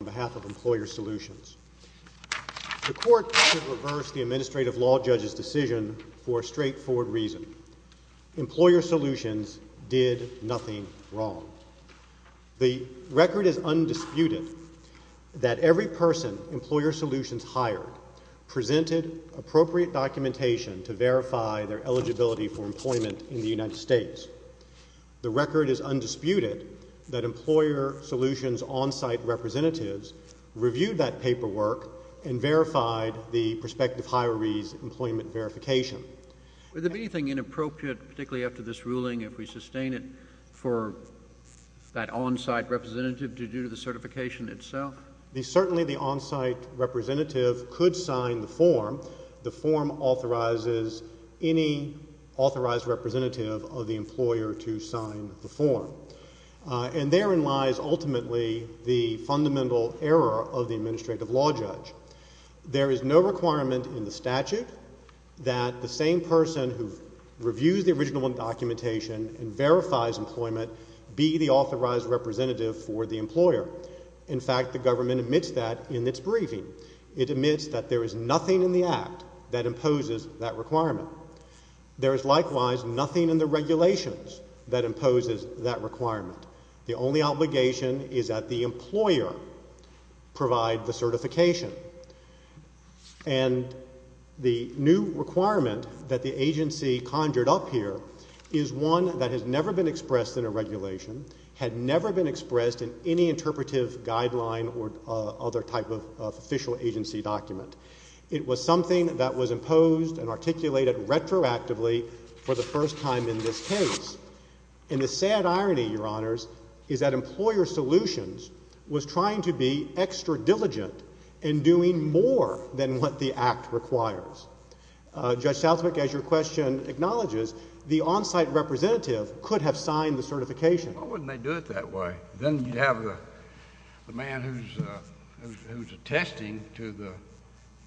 on behalf of Employer Solutions. The Court reversed the Administrative Law Judge's decision for a straightforward reason. Employer Solutions did nothing wrong. The record is undisputed that every person Employer Solutions hired presented appropriate documentation to verify their eligibility for employment in the United States. The record is undisputed that Employer Solutions' on-site representatives reviewed that paperwork and verified the prospective hiree's employment verification. Would there be anything inappropriate, particularly after this ruling, if we sustain it for that on-site representative to do the certification itself? Certainly the on-site representative could sign the form. The form authorizes any authorized representative of the employer to sign the form. And therein lies ultimately the fundamental error of the Administrative Law Judge. There is no requirement in the statute that the same person who reviews the original documentation and verifies employment be the authorized representative for the employer. In fact, the government admits that in its briefing. It admits that there is nothing in the Act that imposes that requirement. There is likewise nothing in the regulations that imposes that requirement. The only obligation is that the employer provide the certification. And the new requirement that the agency conjured up here is one that has never been expressed in a regulation, had never been expressed in any interpretive guideline or other type of official agency document. It was something that was imposed and articulated retroactively for the first time in this case. And the sad irony, Your Honors, is that Employer Solutions was trying to be extra diligent in doing more than what the Act requires. Judge Southwick, as your question acknowledges, the on-site representative could have signed the certification. Why wouldn't they do it that way? Then you have the man who's attesting to the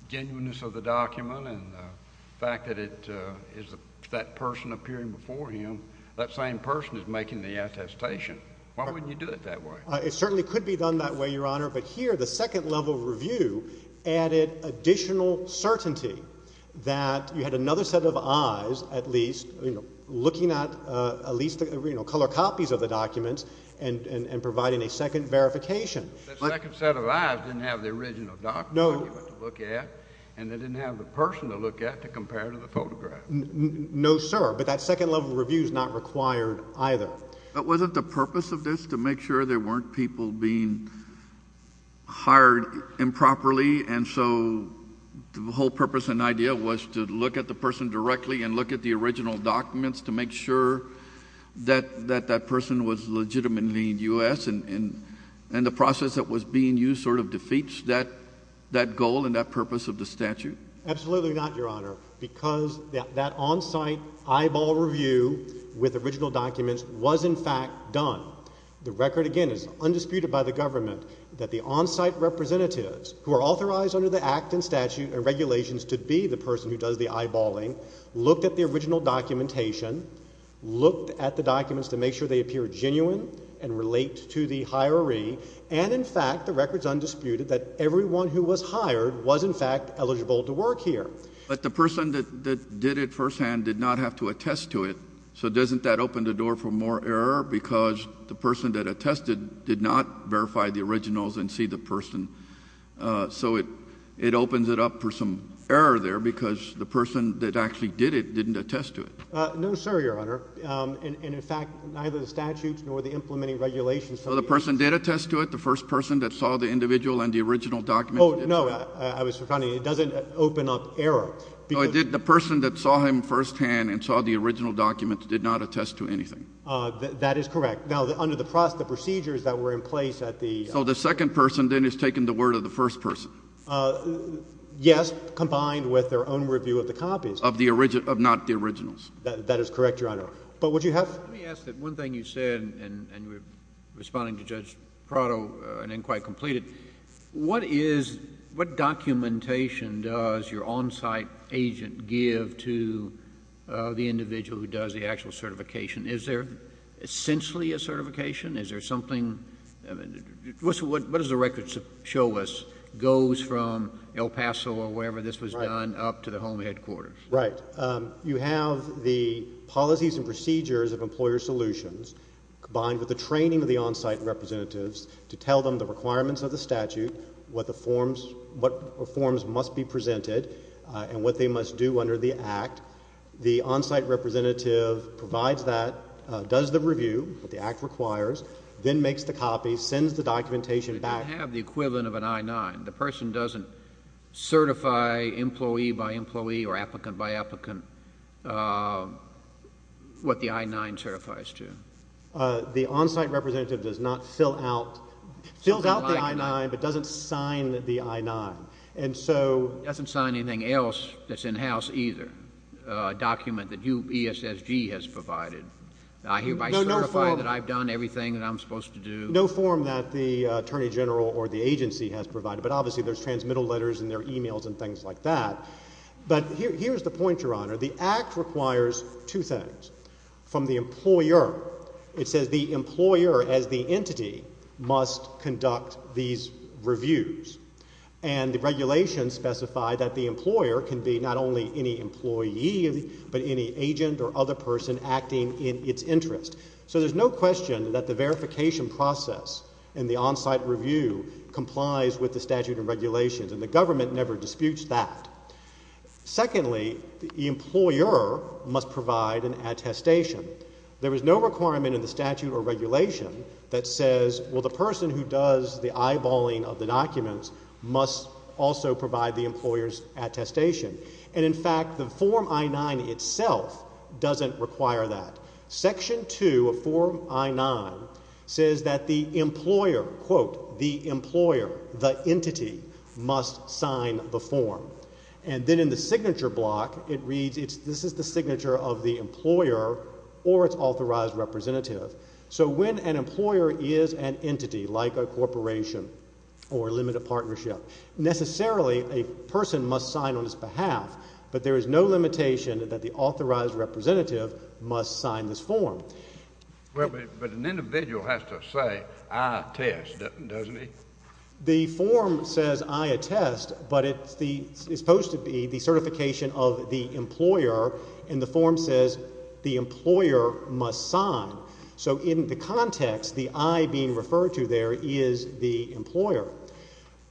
genuineness of the document and the fact that it is that person appearing before him, that same person is making the attestation. Why wouldn't you do it that way? It certainly could be done that way, Your Honor. But here the second level review added additional certainty that you had another set of eyes at least, you know, looking at at least, you know, color copies of the documents and providing a second verification. The second set of eyes didn't have the original document to look at and they didn't have the person to look at to compare to the photograph. No, sir, but that second level review is not required either. But wasn't the purpose of this to make sure there weren't people being hired improperly and so the whole purpose and idea was to look at the person directly and look at the original process that was being used sort of defeats that goal and that purpose of the statute? Absolutely not, Your Honor, because that on-site eyeball review with original documents was in fact done. The record again is undisputed by the government that the on-site representatives who are authorized under the Act and statute and regulations to be the person who does the eyeballing looked at the original documentation, looked at the documents to make sure they And in fact, the record's undisputed that everyone who was hired was in fact eligible to work here. But the person that did it firsthand did not have to attest to it. So doesn't that open the door for more error because the person that attested did not verify the originals and see the person. So it opens it up for some error there because the person that actually did it didn't attest to it. No, sir, Your Honor. And in fact, neither the statutes nor the implementing regulations So the person did attest to it, the first person that saw the individual and the original document? Oh, no. I was refounding. It doesn't open up error. No, it did. The person that saw him firsthand and saw the original documents did not attest to anything. That is correct. Now, under the process, the procedures that were in place at the So the second person then has taken the word of the first person. Yes, combined with their own review of the copies. Of the original, of not the originals. That is correct, Your Honor. But would you have Let me ask that one thing you said, and you were responding to Judge Prado, and then quite completed. What is, what documentation does your on-site agent give to the individual who does the actual certification? Is there essentially a certification? Is there something What does the record show us? Goes from El Paso or wherever this was done up to the home headquarters? Right. You have the policies and procedures of Employer Solutions combined with the training of the on-site representatives to tell them the requirements of the statute, what the forms, what forms must be presented, and what they must do under the Act. The on-site representative provides that, does the review, what the Act requires, then makes the copies, sends the documentation back. I have the equivalent of an I-9. The person doesn't certify employee by employee or applicant by applicant what the I-9 certifies to? The on-site representative does not fill out, fills out the I-9, but doesn't sign the I-9. And so Doesn't sign anything else that's in-house either. A document that you, ESSG, has provided. I hereby certify that I've done everything that I'm supposed to do. No form that the Attorney General or the agency has provided, but obviously there's transmittal letters and there are e-mails and things like that. But here's the point, Your Honor. The Act requires two things. From the employer, it says the employer as the entity must conduct these reviews. And the regulations specify that the employer can be not only any employee, but any agent or other person acting in its interest. So there's no question that the process and the on-site review complies with the statute and regulations and the government never disputes that. Secondly, the employer must provide an attestation. There is no requirement in the statute or regulation that says, well, the person who does the eyeballing of the documents must also provide the employer's attestation. And in fact, the Form I-9 itself doesn't require that. Section 2 of Form I-9 says that the employer, quote, the employer, the entity, must sign the form. And then in the signature block, it reads, this is the signature of the employer or its authorized representative. So when an employer is an entity like a corporation or a limited partnership, necessarily a person must sign on its behalf, but there is no limitation that the authorized representative must sign this form. Well, but an individual has to say, I attest, doesn't he? The form says, I attest, but it's supposed to be the certification of the employer, and the form says the employer must sign. So in the context, the I being referred to there is the employer.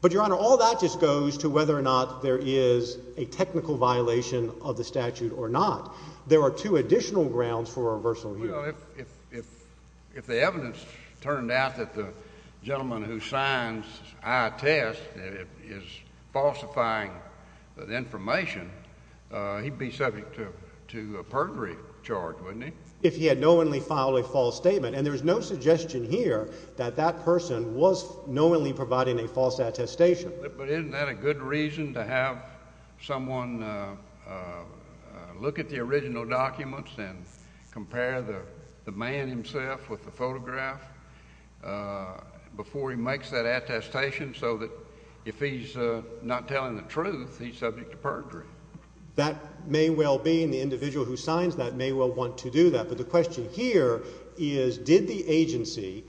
But, Your Honor, all that just goes to whether or not there is a technical violation of the statute or not. There are two additional grounds for reversal here. Well, if the evidence turned out that the gentleman who signs I attest is falsifying the information, he'd be subject to a perjury charge, wouldn't he? If he had knowingly filed a false statement. And there is no suggestion here that that person was knowingly providing a false attestation. But isn't that a good reason to have someone look at the original documents and compare the man himself with the photograph before he makes that attestation so that if he's not telling the truth, he's subject to perjury? That may well be, and the individual who signs that may well want to do that. But the question here is, did the agency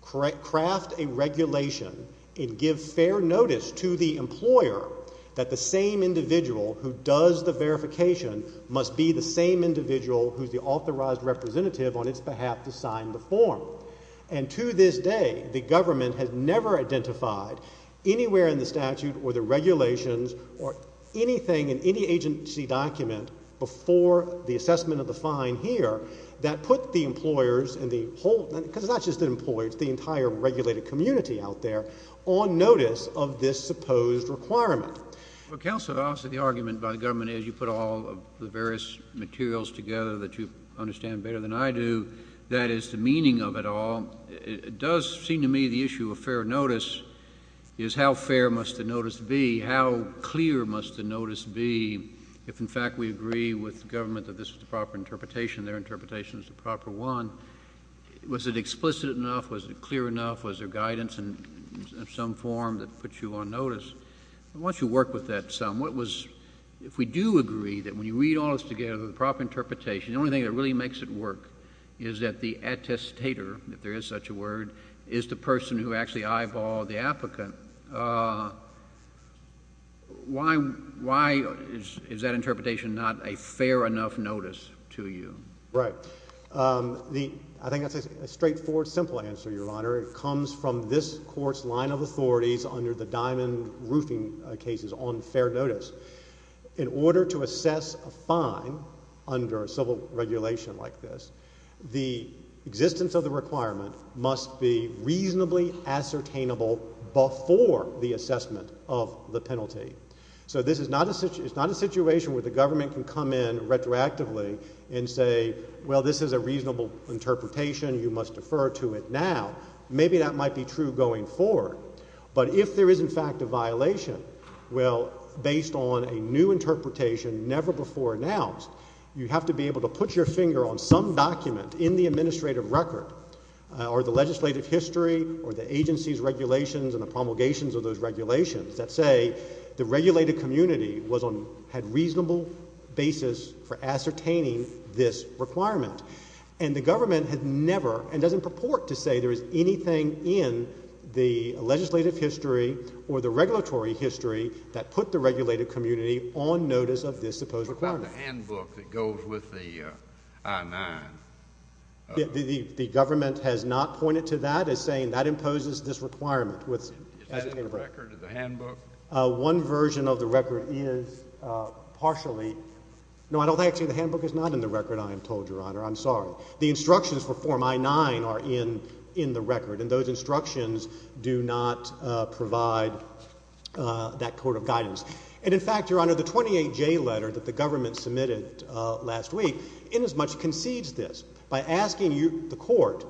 craft a regulation and give fair notice to the employer that the same individual who does the verification must be the same individual who's the authorized representative on its behalf to sign the form? And to this day, the government has never identified anywhere in the statute or the agency document before the assessment of the fine here that put the employers and the whole — because it's not just the employers, it's the entire regulated community out there — on notice of this supposed requirement. Well, Counselor, obviously the argument by the government is you put all the various materials together that you understand better than I do. That is the meaning of it all. It does seem to me the issue of fair notice is how fair must the notice be, how clear must the notice be if, in fact, we agree with the government that this is the proper interpretation, their interpretation is the proper one. Was it explicit enough? Was it clear enough? Was there guidance in some form that puts you on notice? Once you work with that sum, what was — if we do agree that when you read all this together, the proper interpretation, the only thing that really makes it work is that the attestator, if there is such a word, is the person who actually eyeballed the applicant, why is that interpretation not a fair enough notice to you? Right. I think that's a straightforward, simple answer, Your Honor. It comes from this Court's line of authorities under the Diamond Roofing cases on fair notice. In order to assess a fine under a civil regulation like this, the existence of the requirement must be reasonably ascertainable before the assessment of the penalty. So this is not a — it's not a situation where the government can come in retroactively and say, well, this is a reasonable interpretation, you must defer to it now. Maybe that might be true going forward. But if there is, in fact, a violation, well, based on a new interpretation never before announced, you have to be able to put your finger on some document in the administrative record or the legislative history or the agency's regulations and the promulgations of those regulations that say the regulated community was on — had reasonable basis for ascertaining this requirement. And the government had never and doesn't purport to say there is anything in the legislative history or the regulatory history that put the regulated community on notice of this supposed requirement. What about the handbook that goes with the I-9? The government has not pointed to that as saying that imposes this requirement with — Is that in the record, the handbook? One version of the record is partially — no, I don't think actually the handbook is not in the record, I am told, Your Honor. I'm sorry. The instructions for Form I-9 are in the record. And those instructions do not provide that code of guidance. And in fact, Your Honor, the 28J letter that the government submitted last week in as much as concedes this by asking you, the court,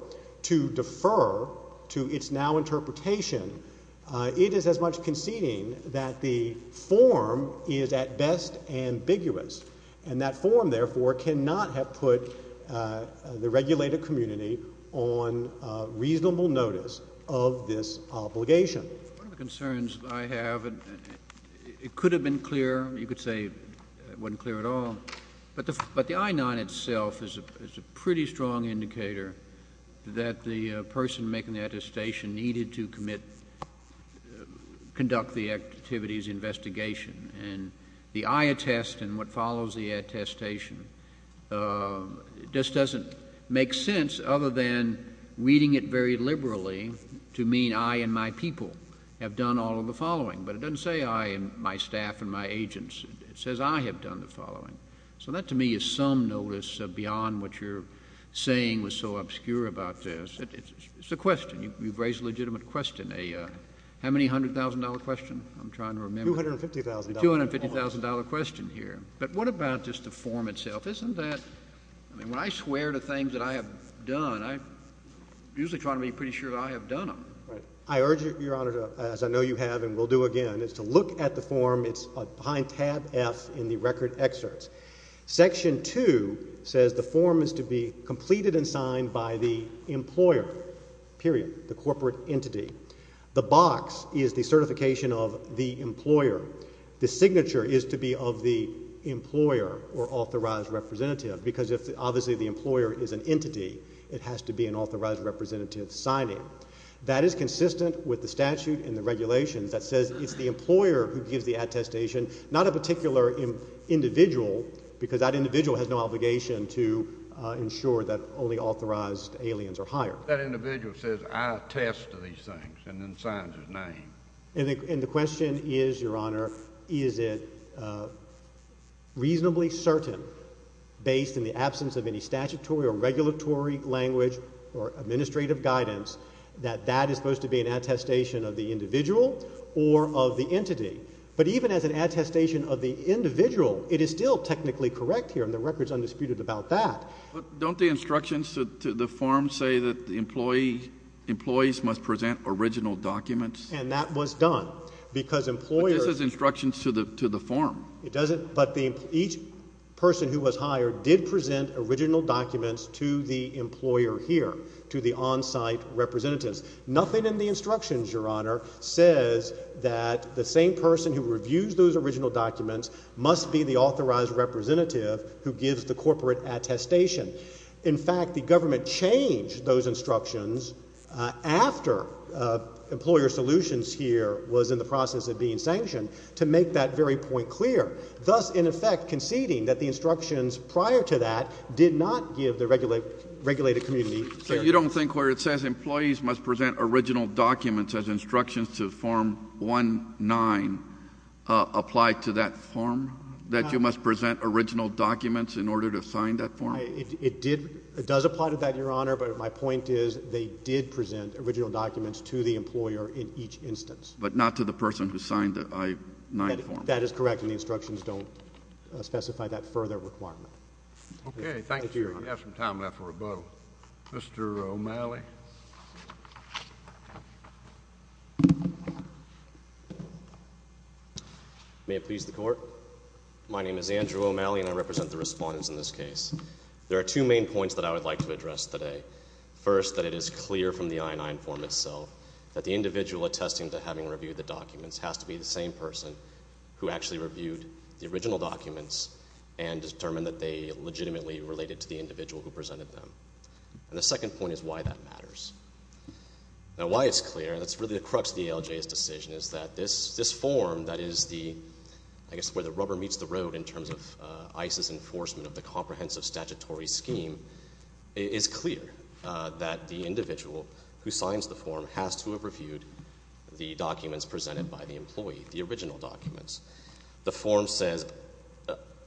to defer to its now interpretation, it is as much conceding that the form is at best ambiguous. And that form, therefore, cannot have put the regulated community on reasonable notice of this obligation. One of the concerns I have, it could have been clear, you could say it wasn't clear at all. But the I-9 itself is a pretty strong indicator that the person making the attestation needed to commit — conduct the activity's investigation. And the I attest and what follows the attestation just doesn't make sense other than reading it very liberally to mean I and my people have done all of the following. But it doesn't say I and my staff and my agents. It says I have done the following. So that, to me, is some notice beyond what you're saying was so obscure about this. It's a question. You've raised a legitimate question, a — how many hundred thousand dollar question? I'm trying to remember. Two hundred and fifty thousand. Two hundred and fifty thousand dollar question here. But what about just the form itself? Isn't that — I mean, when I swear to things that I have done, I'm usually trying to be pretty sure that I have done them. Right. I urge you, Your Honor, as I know you have and will do again, is to look at the form. It's behind tab F in the record excerpts. Section 2 says the form is to be completed and signed by the employer, period, the corporate entity. The box is the certification of the employer. The signature is to be of the employer or authorized representative. Because if, obviously, the employer is an entity, it has to be an authorized representative signing. That is consistent with the statute and the regulations that says it's the employer who gives the attestation, not a particular individual, because that individual has no obligation to ensure that only authorized aliens are hired. That individual says, I attest to these things, and then signs his name. And the question is, Your Honor, is it reasonably certain, based in the absence of any statutory or regulatory language or administrative guidance, that that is supposed to be an attestation of the individual or of the entity? But even as an attestation of the individual, it is still technically correct here, and the record is undisputed about that. But don't the instructions to the form say that the employees must present original documents? And that was done. But this is instructions to the form. But each person who was hired did present original documents to the employer here, to the on-site representatives. Nothing in the instructions, Your Honor, says that the same person who reviews those original documents must be the authorized representative who gives the corporate attestation. In fact, the government changed those instructions after Employer Solutions here was in the process of being sanctioned to make that very point clear. Thus, in effect, conceding that the instructions prior to that did not give the regulated community clarity. So you don't think where it says employees must present original documents as instructions to form 1-9 apply to that form? That you must present original documents in order to sign that form? It does apply to that, Your Honor, but my point is they did present original documents to the employer in each instance. But not to the person who signed the I-9 form? That is correct. And the instructions don't specify that further requirement. Okay. Thank you, Your Honor. We have some time left for a vote. Mr. O'Malley? May it please the Court? My name is Andrew O'Malley and I represent the respondents in this case. There are two main points that I would like to address today. First, that it is clear from the I-9 form itself that the individual attesting to having reviewed the documents has to be the same person who actually reviewed the original documents and determined that they legitimately related to the individual who presented them. And the second point is why that matters. Now, why it's clear, that's really the crux of the ALJ's decision, is that this form, that is the, I guess, where the rubber meets the road in terms of ICE's enforcement of the comprehensive statutory scheme, is clear. It is clear that the individual who signs the form has to have reviewed the documents presented by the employee, the original documents. The form says,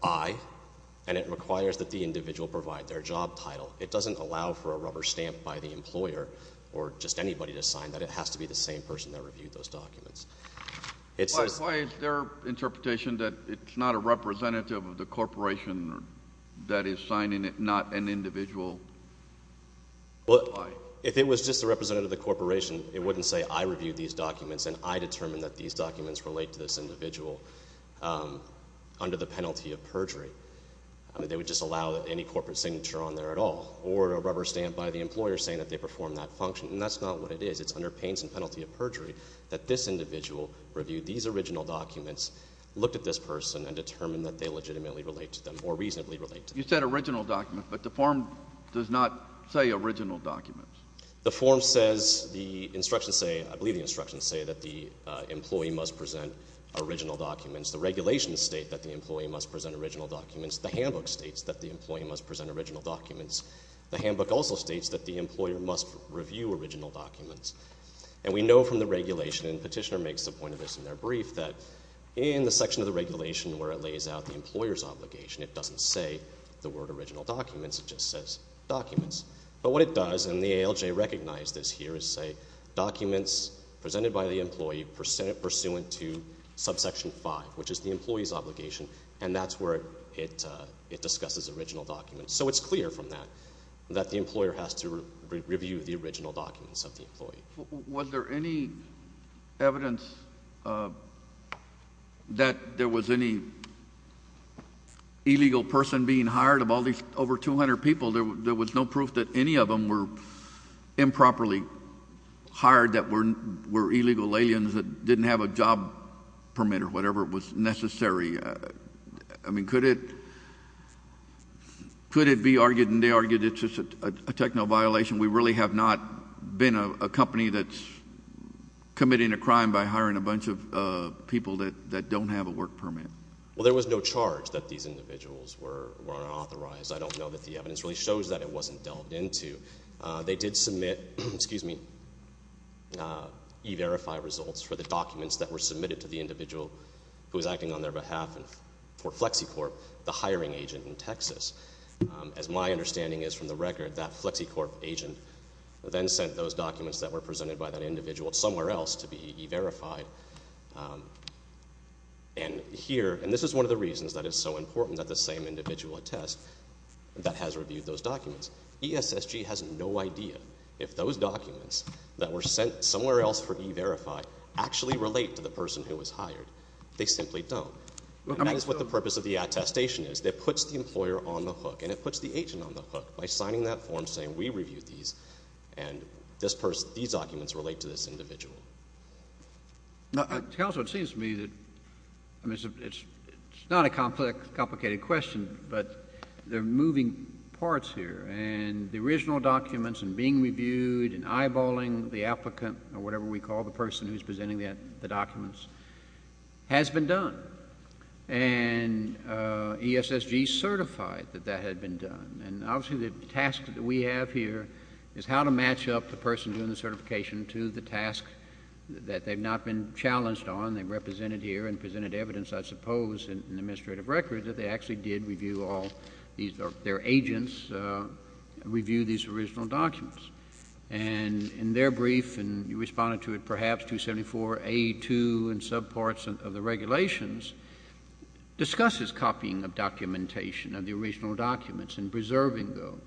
I, and it requires that the individual provide their job title. It doesn't allow for a rubber stamp by the employer or just anybody to sign that. It has to be the same person that reviewed those documents. Why is their interpretation that it's not a representative of the corporation that is signing it, not an individual? Well, if it was just a representative of the corporation, it wouldn't say I reviewed these documents and I determined that these documents relate to this individual under the penalty of perjury. They would just allow any corporate signature on there at all or a rubber stamp by the employer saying that they performed that function. And that's not what it is. It's under pains and penalty of perjury that this individual reviewed these original documents, looked at this person, and determined that they legitimately relate to them or reasonably relate to them. You said original documents, but the form does not say original document. The form says, I believe the instructions say, that the employee must present original documents. The regulations state that the employee must present original documents. The handbook states that the employee must present original documents. The handbook also states that the employer must review original documents. And we know from the regulation, and the petitioner makes the point of this in their brief, that in the section of the regulation where it lays out the employer's obligation, it doesn't say the word original documents, it just says documents. But what it does, and the ALJ recognized this here, is say, documents presented by the employee pursuant to subsection 5, which is the employee's obligation, and that's where it discusses original documents. So it's clear from that, that the employer has to review the original documents of the employee. Was there any evidence that there was any illegal person being hired of all these over 200 people? There was no proof that any of them were improperly hired, that were illegal aliens, that didn't have a job permit or whatever was necessary. I mean, could it be argued, and they argued it's just a technical violation, we really have not been a company that's committing a crime by hiring a bunch of people that don't have a work permit? Well, there was no charge that these individuals were unauthorized. I don't know that the evidence really shows that it wasn't delved into. They did submit, excuse me, E-Verify results for the documents that were submitted to the individual who was acting on their behalf for Flexicorp, the hiring agent in Texas. As my understanding is from the record, that Flexicorp agent then sent those documents that were presented by that individual somewhere else to be E-Verified. And here, and this is one of the reasons that it's so important that the same individual attest that has reviewed those documents. ESSG has no idea if those documents that were sent somewhere else for E-Verify actually relate to the person who was hired. They simply don't. And that is what the purpose of the attestation is. It puts the employer on the hook, and it puts the agent on the hook by signing that form saying we reviewed these, and these documents relate to this individual. Counselor, it seems to me that it's not a complicated question, but there are moving parts here, and the original documents and being reviewed and eyeballing the applicant or whatever we call the person who is presenting the documents has been done. And ESSG certified that that had been done. And obviously, the task that we have here is how to match up the person doing the certification to the task that they have not been challenged on. They represented here and presented evidence, I suppose, in the administrative record that they actually did review all these, or their agents reviewed these original documents. And in their brief, and you responded to it perhaps, 274A2 and subparts of the regulations discusses copying of documentation of the original documents and preserving those.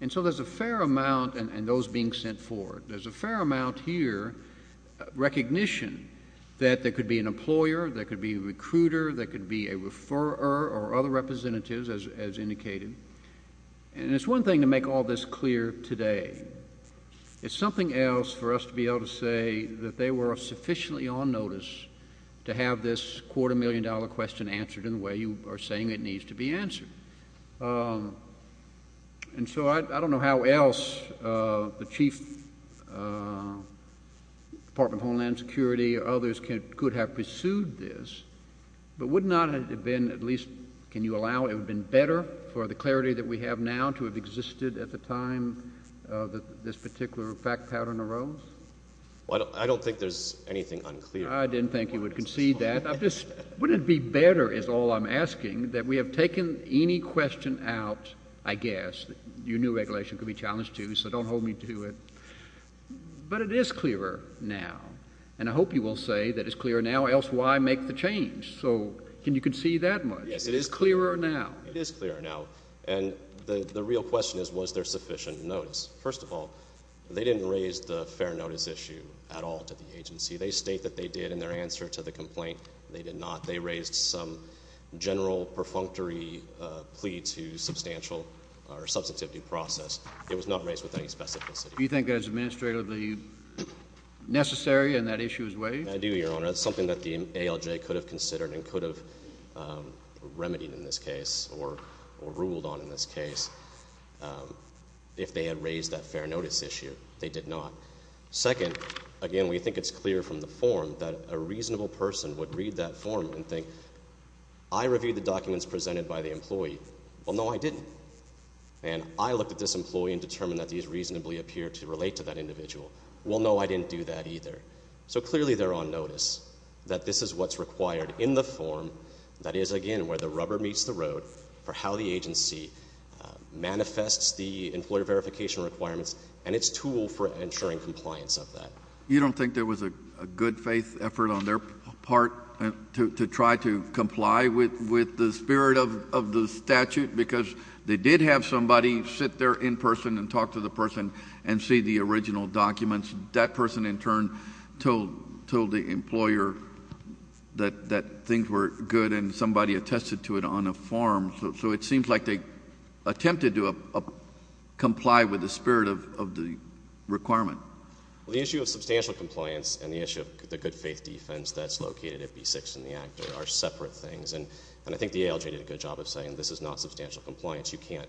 And so there's a fair amount, and those being sent forward, there's a fair amount here, recognition that there could be an employer, there could be a recruiter, there could be a referrer or other representatives, as indicated. And it's one thing to make all this clear today. It's something else for us to be able to say that they were sufficiently on notice to have this quarter million dollar question answered in the way you are saying it needs to be answered. And so I don't know how else the Chief Department of Homeland Security or others could have pursued this, but would not it have been at least, can you see the clarity that we have now to have existed at the time that this particular fact pattern arose? Well, I don't think there's anything unclear. I didn't think you would concede that. I'm just, wouldn't it be better is all I'm asking that we have taken any question out, I guess. Your new regulation could be challenged too, so don't hold me to it. But it is clearer now. And I hope you will say that it's clearer now, else why make the change? So can you concede that much? Yes, it is clearer now. It is clearer now. And the real question is, was there sufficient notice? First of all, they didn't raise the fair notice issue at all to the agency. They state that they did in their answer to the complaint. They did not. They raised some general perfunctory plea to substantial or substantive due process. It was not raised with any specificity. Do you think that is administratively necessary and that issue is waived? I do, Your Honor. It's something that the ALJ could have considered and could have remedied in this case or ruled on in this case if they had raised that fair notice issue. They did not. Second, again, we think it's clear from the form that a reasonable person would read that form and think, I reviewed the documents presented by the employee. Well, no, I didn't. And I looked at this employee and determined that these reasonably appeared to relate to that individual. Well, no, I didn't do that either. So clearly they're on notice that this is what's required in the form that is, again, where the rubber meets the road for how the agency manifests the employer verification requirements and its tool for ensuring compliance of that. You don't think there was a good faith effort on their part to try to comply with the spirit of the statute? Because they did have somebody sit there in person and talk to the person and see the original documents. That person in turn told the employer that things were good and somebody attested to it on a form. So it seems like they attempted to comply with the spirit of the requirement. Well, the issue of substantial compliance and the issue of the good faith defense that's located at B-6 in the Act are separate things. And I think the ALJ did a good job of saying this is not substantial compliance. You can't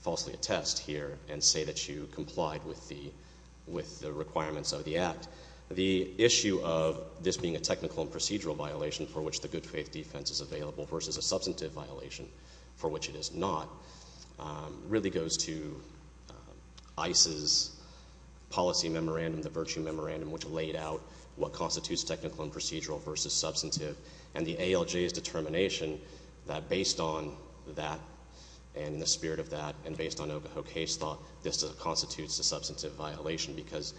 falsely attest here and say that you complied with the requirements of the Act. The issue of this being a technical and procedural violation for which the good faith is available versus a substantive violation for which it is not really goes to ICE's policy memorandum, the virtue memorandum, which laid out what constitutes technical and procedural versus substantive. And the ALJ's determination that based on that and the spirit of that and based on Ocahoke's case law, this constitutes a substantive violation because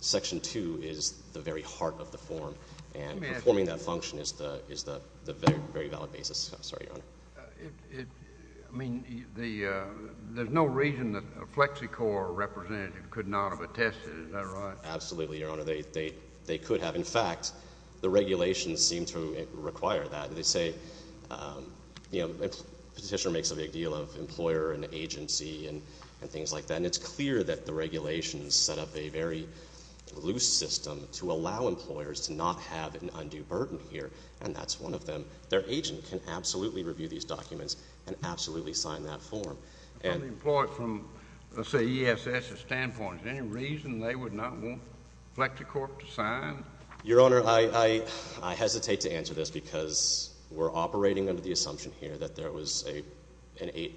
Section 2 is the very heart of the form. And performing that function is the very valid basis. I'm sorry, Your Honor. I mean, there's no reason that a FlexiCorps representative could not have attested. Is that right? Absolutely, Your Honor. They could have. In fact, the regulations seem to require that. They say a petitioner makes a big deal of employer and agency and things like that. And it's clear that the regulations set up a very loose system to allow employers to not have an undue burden here. And that's one of them. Their agent can absolutely review these documents and absolutely sign that form. From the employer, from, let's say, ESS's standpoint, is there any reason they would not want FlexiCorps to sign? Your Honor, I hesitate to answer this because we're operating under the assumption here that there was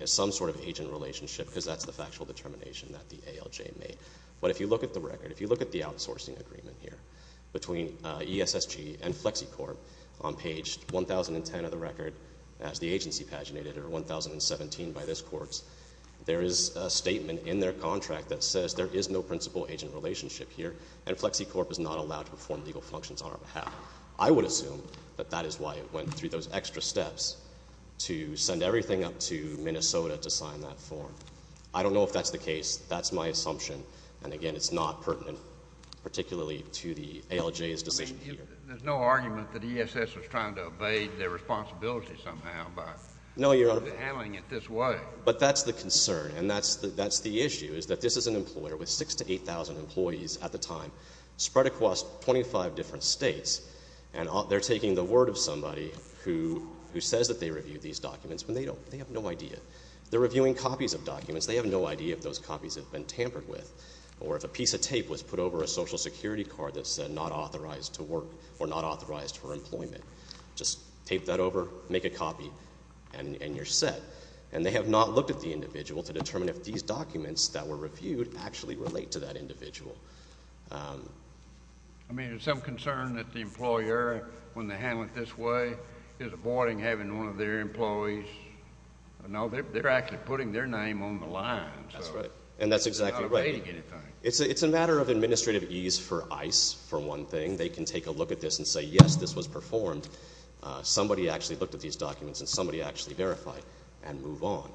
some sort of agent relationship because that's the factual determination that the ALJ made. But if you look at the record, if you look at the outsourcing agreement here between ESSG and FlexiCorps on page 1,010 of the record as the agency paginated or 1,017 by this court, there is a statement in their contract that says there is no principal agent relationship here and FlexiCorps is not allowed to perform legal functions on our behalf. I would assume that that is why it went through those extra steps to send everything up to Minnesota to sign that form. I don't know if that's the case. That's my assumption. And again, it's not pertinent particularly to the ALJ's decision here. There's no argument that ESS was trying to evade their responsibility somehow by handling it this way. But that's the concern and that's the issue is that this is an employer with 6,000 to 8,000 employees at the time spread across 25 different states and they're taking the word of somebody who says that they reviewed these documents when they have no idea. They're reviewing copies of documents. They have no idea if those copies have been tampered with or if a piece of tape was put over a Social Security card that said not authorized to work or not authorized for employment. Just tape that over, make a copy, and you're set. And they have not looked at the individual to determine if these documents that were reviewed actually relate to that individual. I mean, is there some concern that the employer, when they handle it this way, is avoiding having one of their employees? No, they're actually putting their name on the line. That's right. And that's exactly right. They're not evading anything. It's a matter of administrative ease for ICE, for one thing. They can take a look at this and say, yes, this was performed. Somebody actually looked at these documents and somebody actually verified and moved on.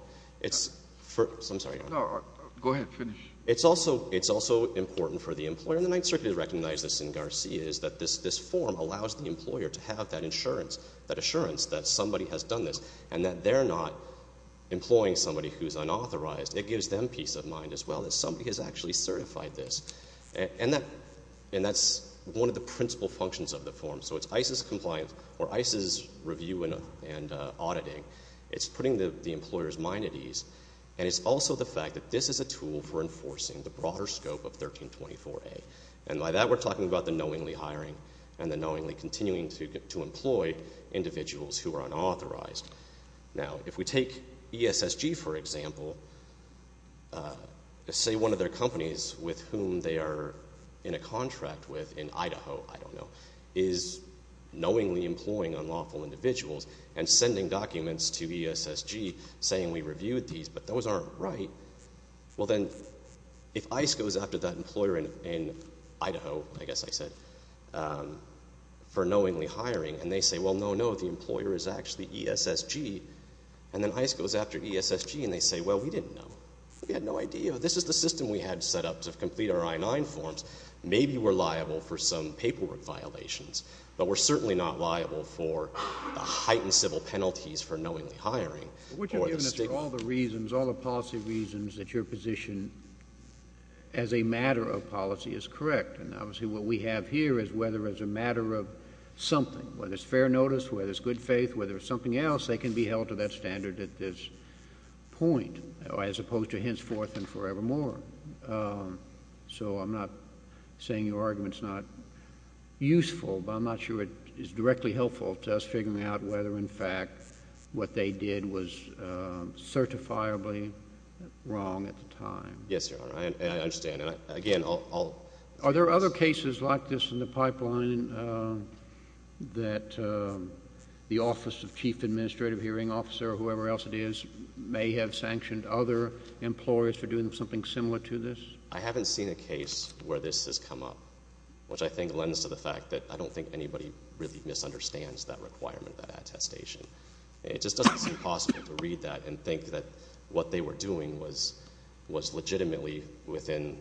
I'm sorry. No, go ahead. Finish. It's also important for the employer, and I certainly recognize this in Garcia, is that this form allows the employer to have that assurance that somebody has done this and that they're not employing somebody who's unauthorized. It gives them peace of mind as well that somebody has actually certified this. And that's one of the principal functions of the form. So it's ICE's compliance or ICE's review and auditing. It's putting the employer's mind at ease. And it's also the fact that this is a tool for enforcing the broader scope of 1324A. And by that, we're talking about the knowingly hiring and the individuals who are unauthorized. Now, if we take ESSG, for example, say one of their companies with whom they are in a contract with in Idaho, I don't know, is knowingly employing unlawful individuals and sending documents to ESSG saying we reviewed these, but those aren't right. Well, then if ICE goes after that employer in Idaho, I guess I said, for knowingly hiring, and they say, well, no, no, the employer is actually ESSG, and then ICE goes after ESSG and they say, well, we didn't know. We had no idea. This is the system we had set up to complete our I-9 forms. Maybe we're liable for some paperwork violations. But we're certainly not liable for the heightened civil penalties for knowingly hiring. But wouldn't you have given us all the reasons, all the policy reasons that your position as a matter of policy is correct? And obviously what we have here is whether as a matter of something, whether it's fair notice, whether it's good faith, whether it's something else, they can be held to that standard at this point as opposed to henceforth and forevermore. So I'm not saying your argument is not useful, but I'm not sure it is directly helpful to us figuring out whether, in fact, what they did was certifiably wrong at the time. Yes, Your Honor. I understand. Again, I'll- Are there other cases like this in the pipeline that the Office of Chief Administrative Hearing Officer or whoever else it is may have sanctioned other employers for doing something similar to this? I haven't seen a case where this has come up, which I think lends to the fact that I don't think anybody really misunderstands that requirement, that attestation. It just doesn't seem possible to read that and think that what they were doing was legitimately within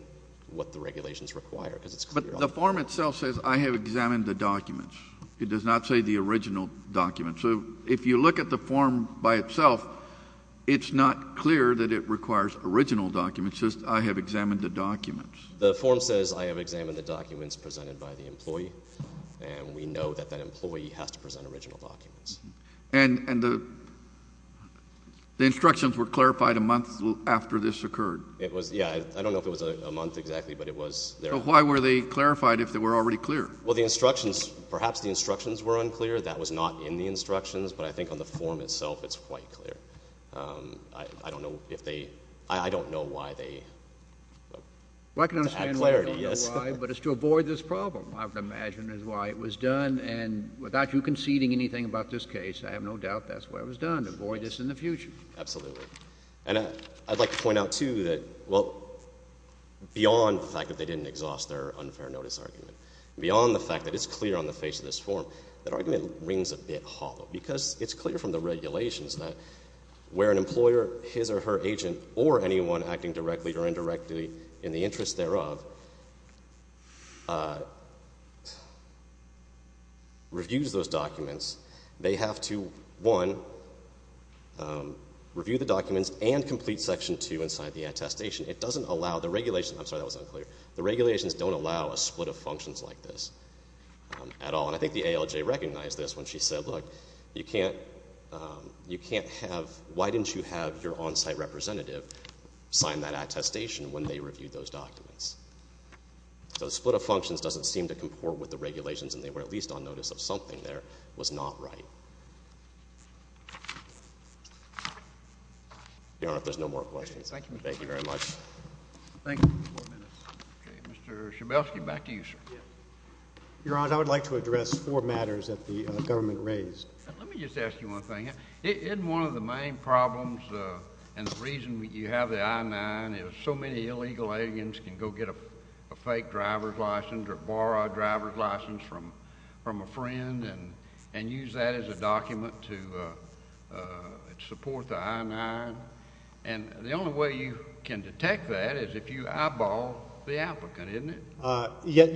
what the regulations require. But the form itself says, I have examined the documents. It does not say the original documents. So if you look at the form by itself, it's not clear that it requires original documents. It says, I have examined the documents. The form says, I have examined the documents presented by the employee, and we know that that employee has to present original documents. And the instructions were clarified a month after this occurred? It was, yeah. I don't know if it was a month exactly, but it was. So why were they clarified if they were already clear? Well, the instructions, perhaps the instructions were unclear. That was not in the instructions. But I think on the form itself, it's quite clear. I don't know if they, I don't know why they- Well, I can understand why, but it's to avoid this problem, I would imagine, is why it was done. And without you conceding anything about this case, I have no doubt that's why it was done, to avoid this in the future. Absolutely. And I'd like to point out, too, that, well, beyond the fact that they didn't exhaust their unfair notice argument, beyond the fact that it's clear on the face of this form, that argument rings a bit hollow. Because it's clear from the regulations that where an employer, his or her agent, or anyone acting directly or indirectly, reviews those documents, they have to, one, review the documents and complete Section 2 and sign the attestation. It doesn't allow the regulations- I'm sorry, that was unclear. The regulations don't allow a split of functions like this at all. And I think the ALJ recognized this when she said, look, you can't, you can't have, why didn't you have your on-site representative sign that attestation when they reviewed those documents? So the split of functions doesn't seem to comport with the regulations, and they were at least on notice of something there was not right. Your Honor, if there's no more questions. Thank you. Thank you very much. Thank you for four minutes. Okay. Mr. Schabelsky, back to you, sir. Yes. Your Honor, I would like to address four matters that the government raised. Let me just ask you one thing. In one of the main problems and the reason you have the I-9 is so many illegal aliens can go get a fake driver's license or borrow a driver's license from a friend and use that as a document to support the I-9. And the only way you can detect that is if you eyeball the applicant, isn't it?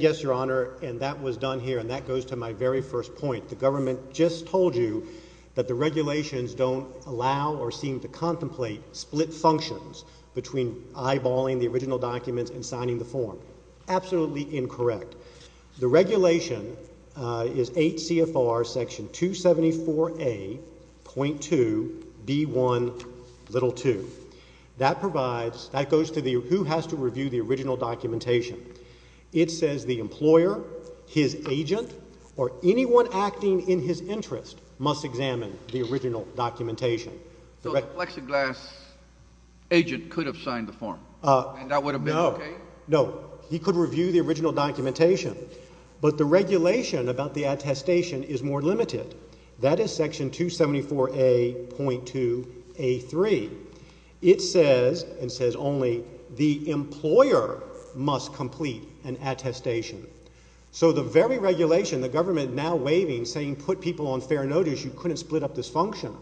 Yes, Your Honor. And that was done here. And that goes to my very first point. The government just told you that the regulations don't allow or seem to contemplate split functions between eyeballing the original documents and signing the form. Absolutely incorrect. The regulation is 8 CFR Section 274A.2B1.2. That provides, that goes to who has to review the original documentation. It says the employer, his agent, or anyone acting in his interest must examine the original documentation. So the plexiglass agent could have signed the form and that would have been okay? No. No. He could review the original documentation. But the regulation about the attestation is more limited. That is Section 274A.2A3. It says and says only the employer must complete an attestation. So the very regulation the government now waiving saying you put people on fair notice, you couldn't split up this function,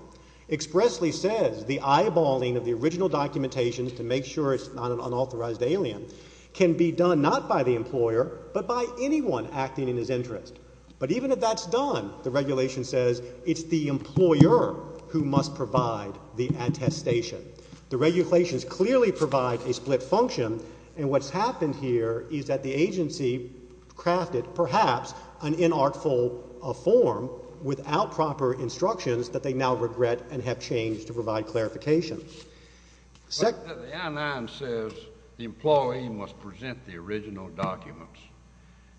expressly says the eyeballing of the original documentation to make sure it's not an unauthorized alien can be done not by the employer but by anyone acting in his interest. But even if that's done, the regulation says it's the employer who must provide the attestation. The regulations clearly provide a split function. And what's happened here is that the agency crafted perhaps an artful form without proper instructions that they now regret and have changed to provide clarification. The I-9 says the employee must present the original documents.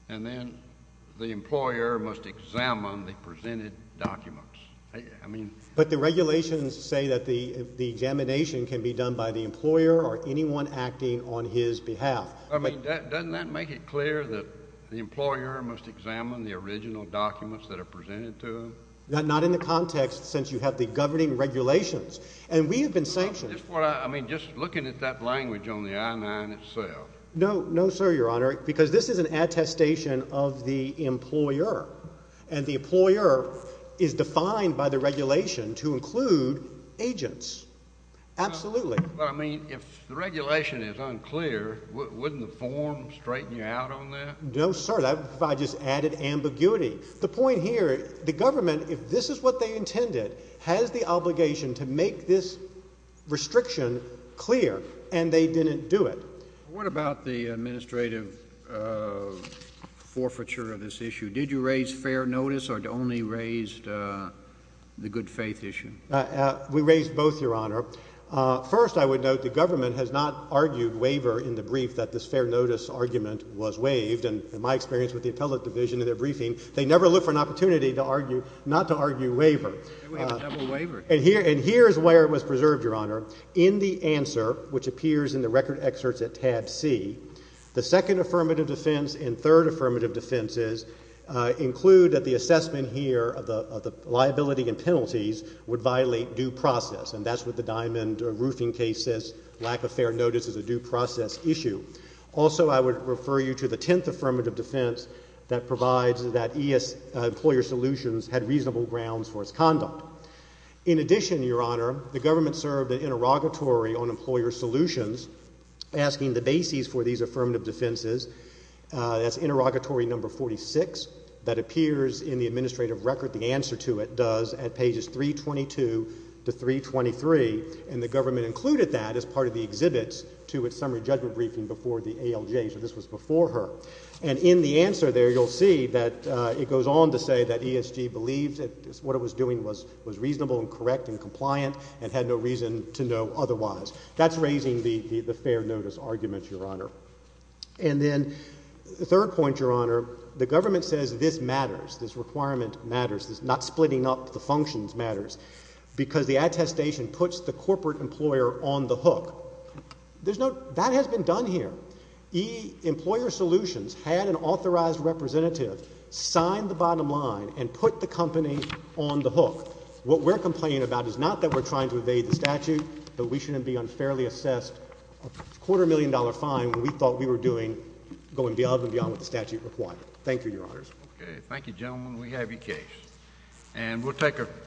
And then the employer must examine the presented documents. But the regulations say that the examination can be done by the employer or anyone acting on his behalf. I mean, doesn't that make it clear that the employer must examine the original documents that are presented to him? Not in the context since you have the governing regulations. And we have been sanctioned. I mean, just looking at that language on the I-9 itself. No, no, sir, Your Honor, because this is an attestation of the employer. And the employer is defined by the regulation to include agents. Absolutely. Well, I mean, if the regulation is unclear, wouldn't the form straighten you out on that? No, sir. I just added ambiguity. The point here, the government, if this is what they intended, has the obligation to make this restriction clear. And they didn't do it. What about the administrative forfeiture of this issue? Did you raise fair notice or only raised the good faith issue? We raised both, Your Honor. First, I would note the government has not argued waiver in the brief that this fair notice argument was waived. And in my experience with the appellate division in their briefing, they never look for an opportunity not to argue waiver. We have a double waiver. And here is where it was preserved, Your Honor. In the answer, which appears in the record excerpts at tab C, the second affirmative defense and third affirmative defenses include that the assessment here of the liability and penalties would violate due process. And that's what the diamond roofing case says. Lack of fair notice is a due process issue. Also, I would refer you to the tenth affirmative defense that provides that E.S. Employer Solutions had reasonable grounds for its conduct. In addition, Your Honor, the government served an interrogatory on Employer Solutions asking the bases for these affirmative defenses. That's interrogatory number 46. That appears in the administrative record. The answer to it does at pages 322 to 323. And the government included that as part of the exhibits to its summary judgment briefing before the ALJ. So this was before her. And in the answer there, you'll see that it goes on to say that ESG believed that what it was doing was reasonable and correct and compliant and had no reason to know otherwise. That's raising the fair notice argument, Your Honor. And then the third point, Your Honor, the government says this matters. Not splitting up the functions matters because the attestation puts the corporate employer on the hook. That has been done here. E. Employer Solutions had an authorized representative sign the bottom line and put the company on the hook. What we're complaining about is not that we're trying to evade the statute, but we shouldn't be unfairly assessed a quarter million dollar fine when we thought we were doing going beyond and beyond what the statute required. Thank you, Your Honors. Okay. Thank you, gentlemen. We have your case. And we'll take a break.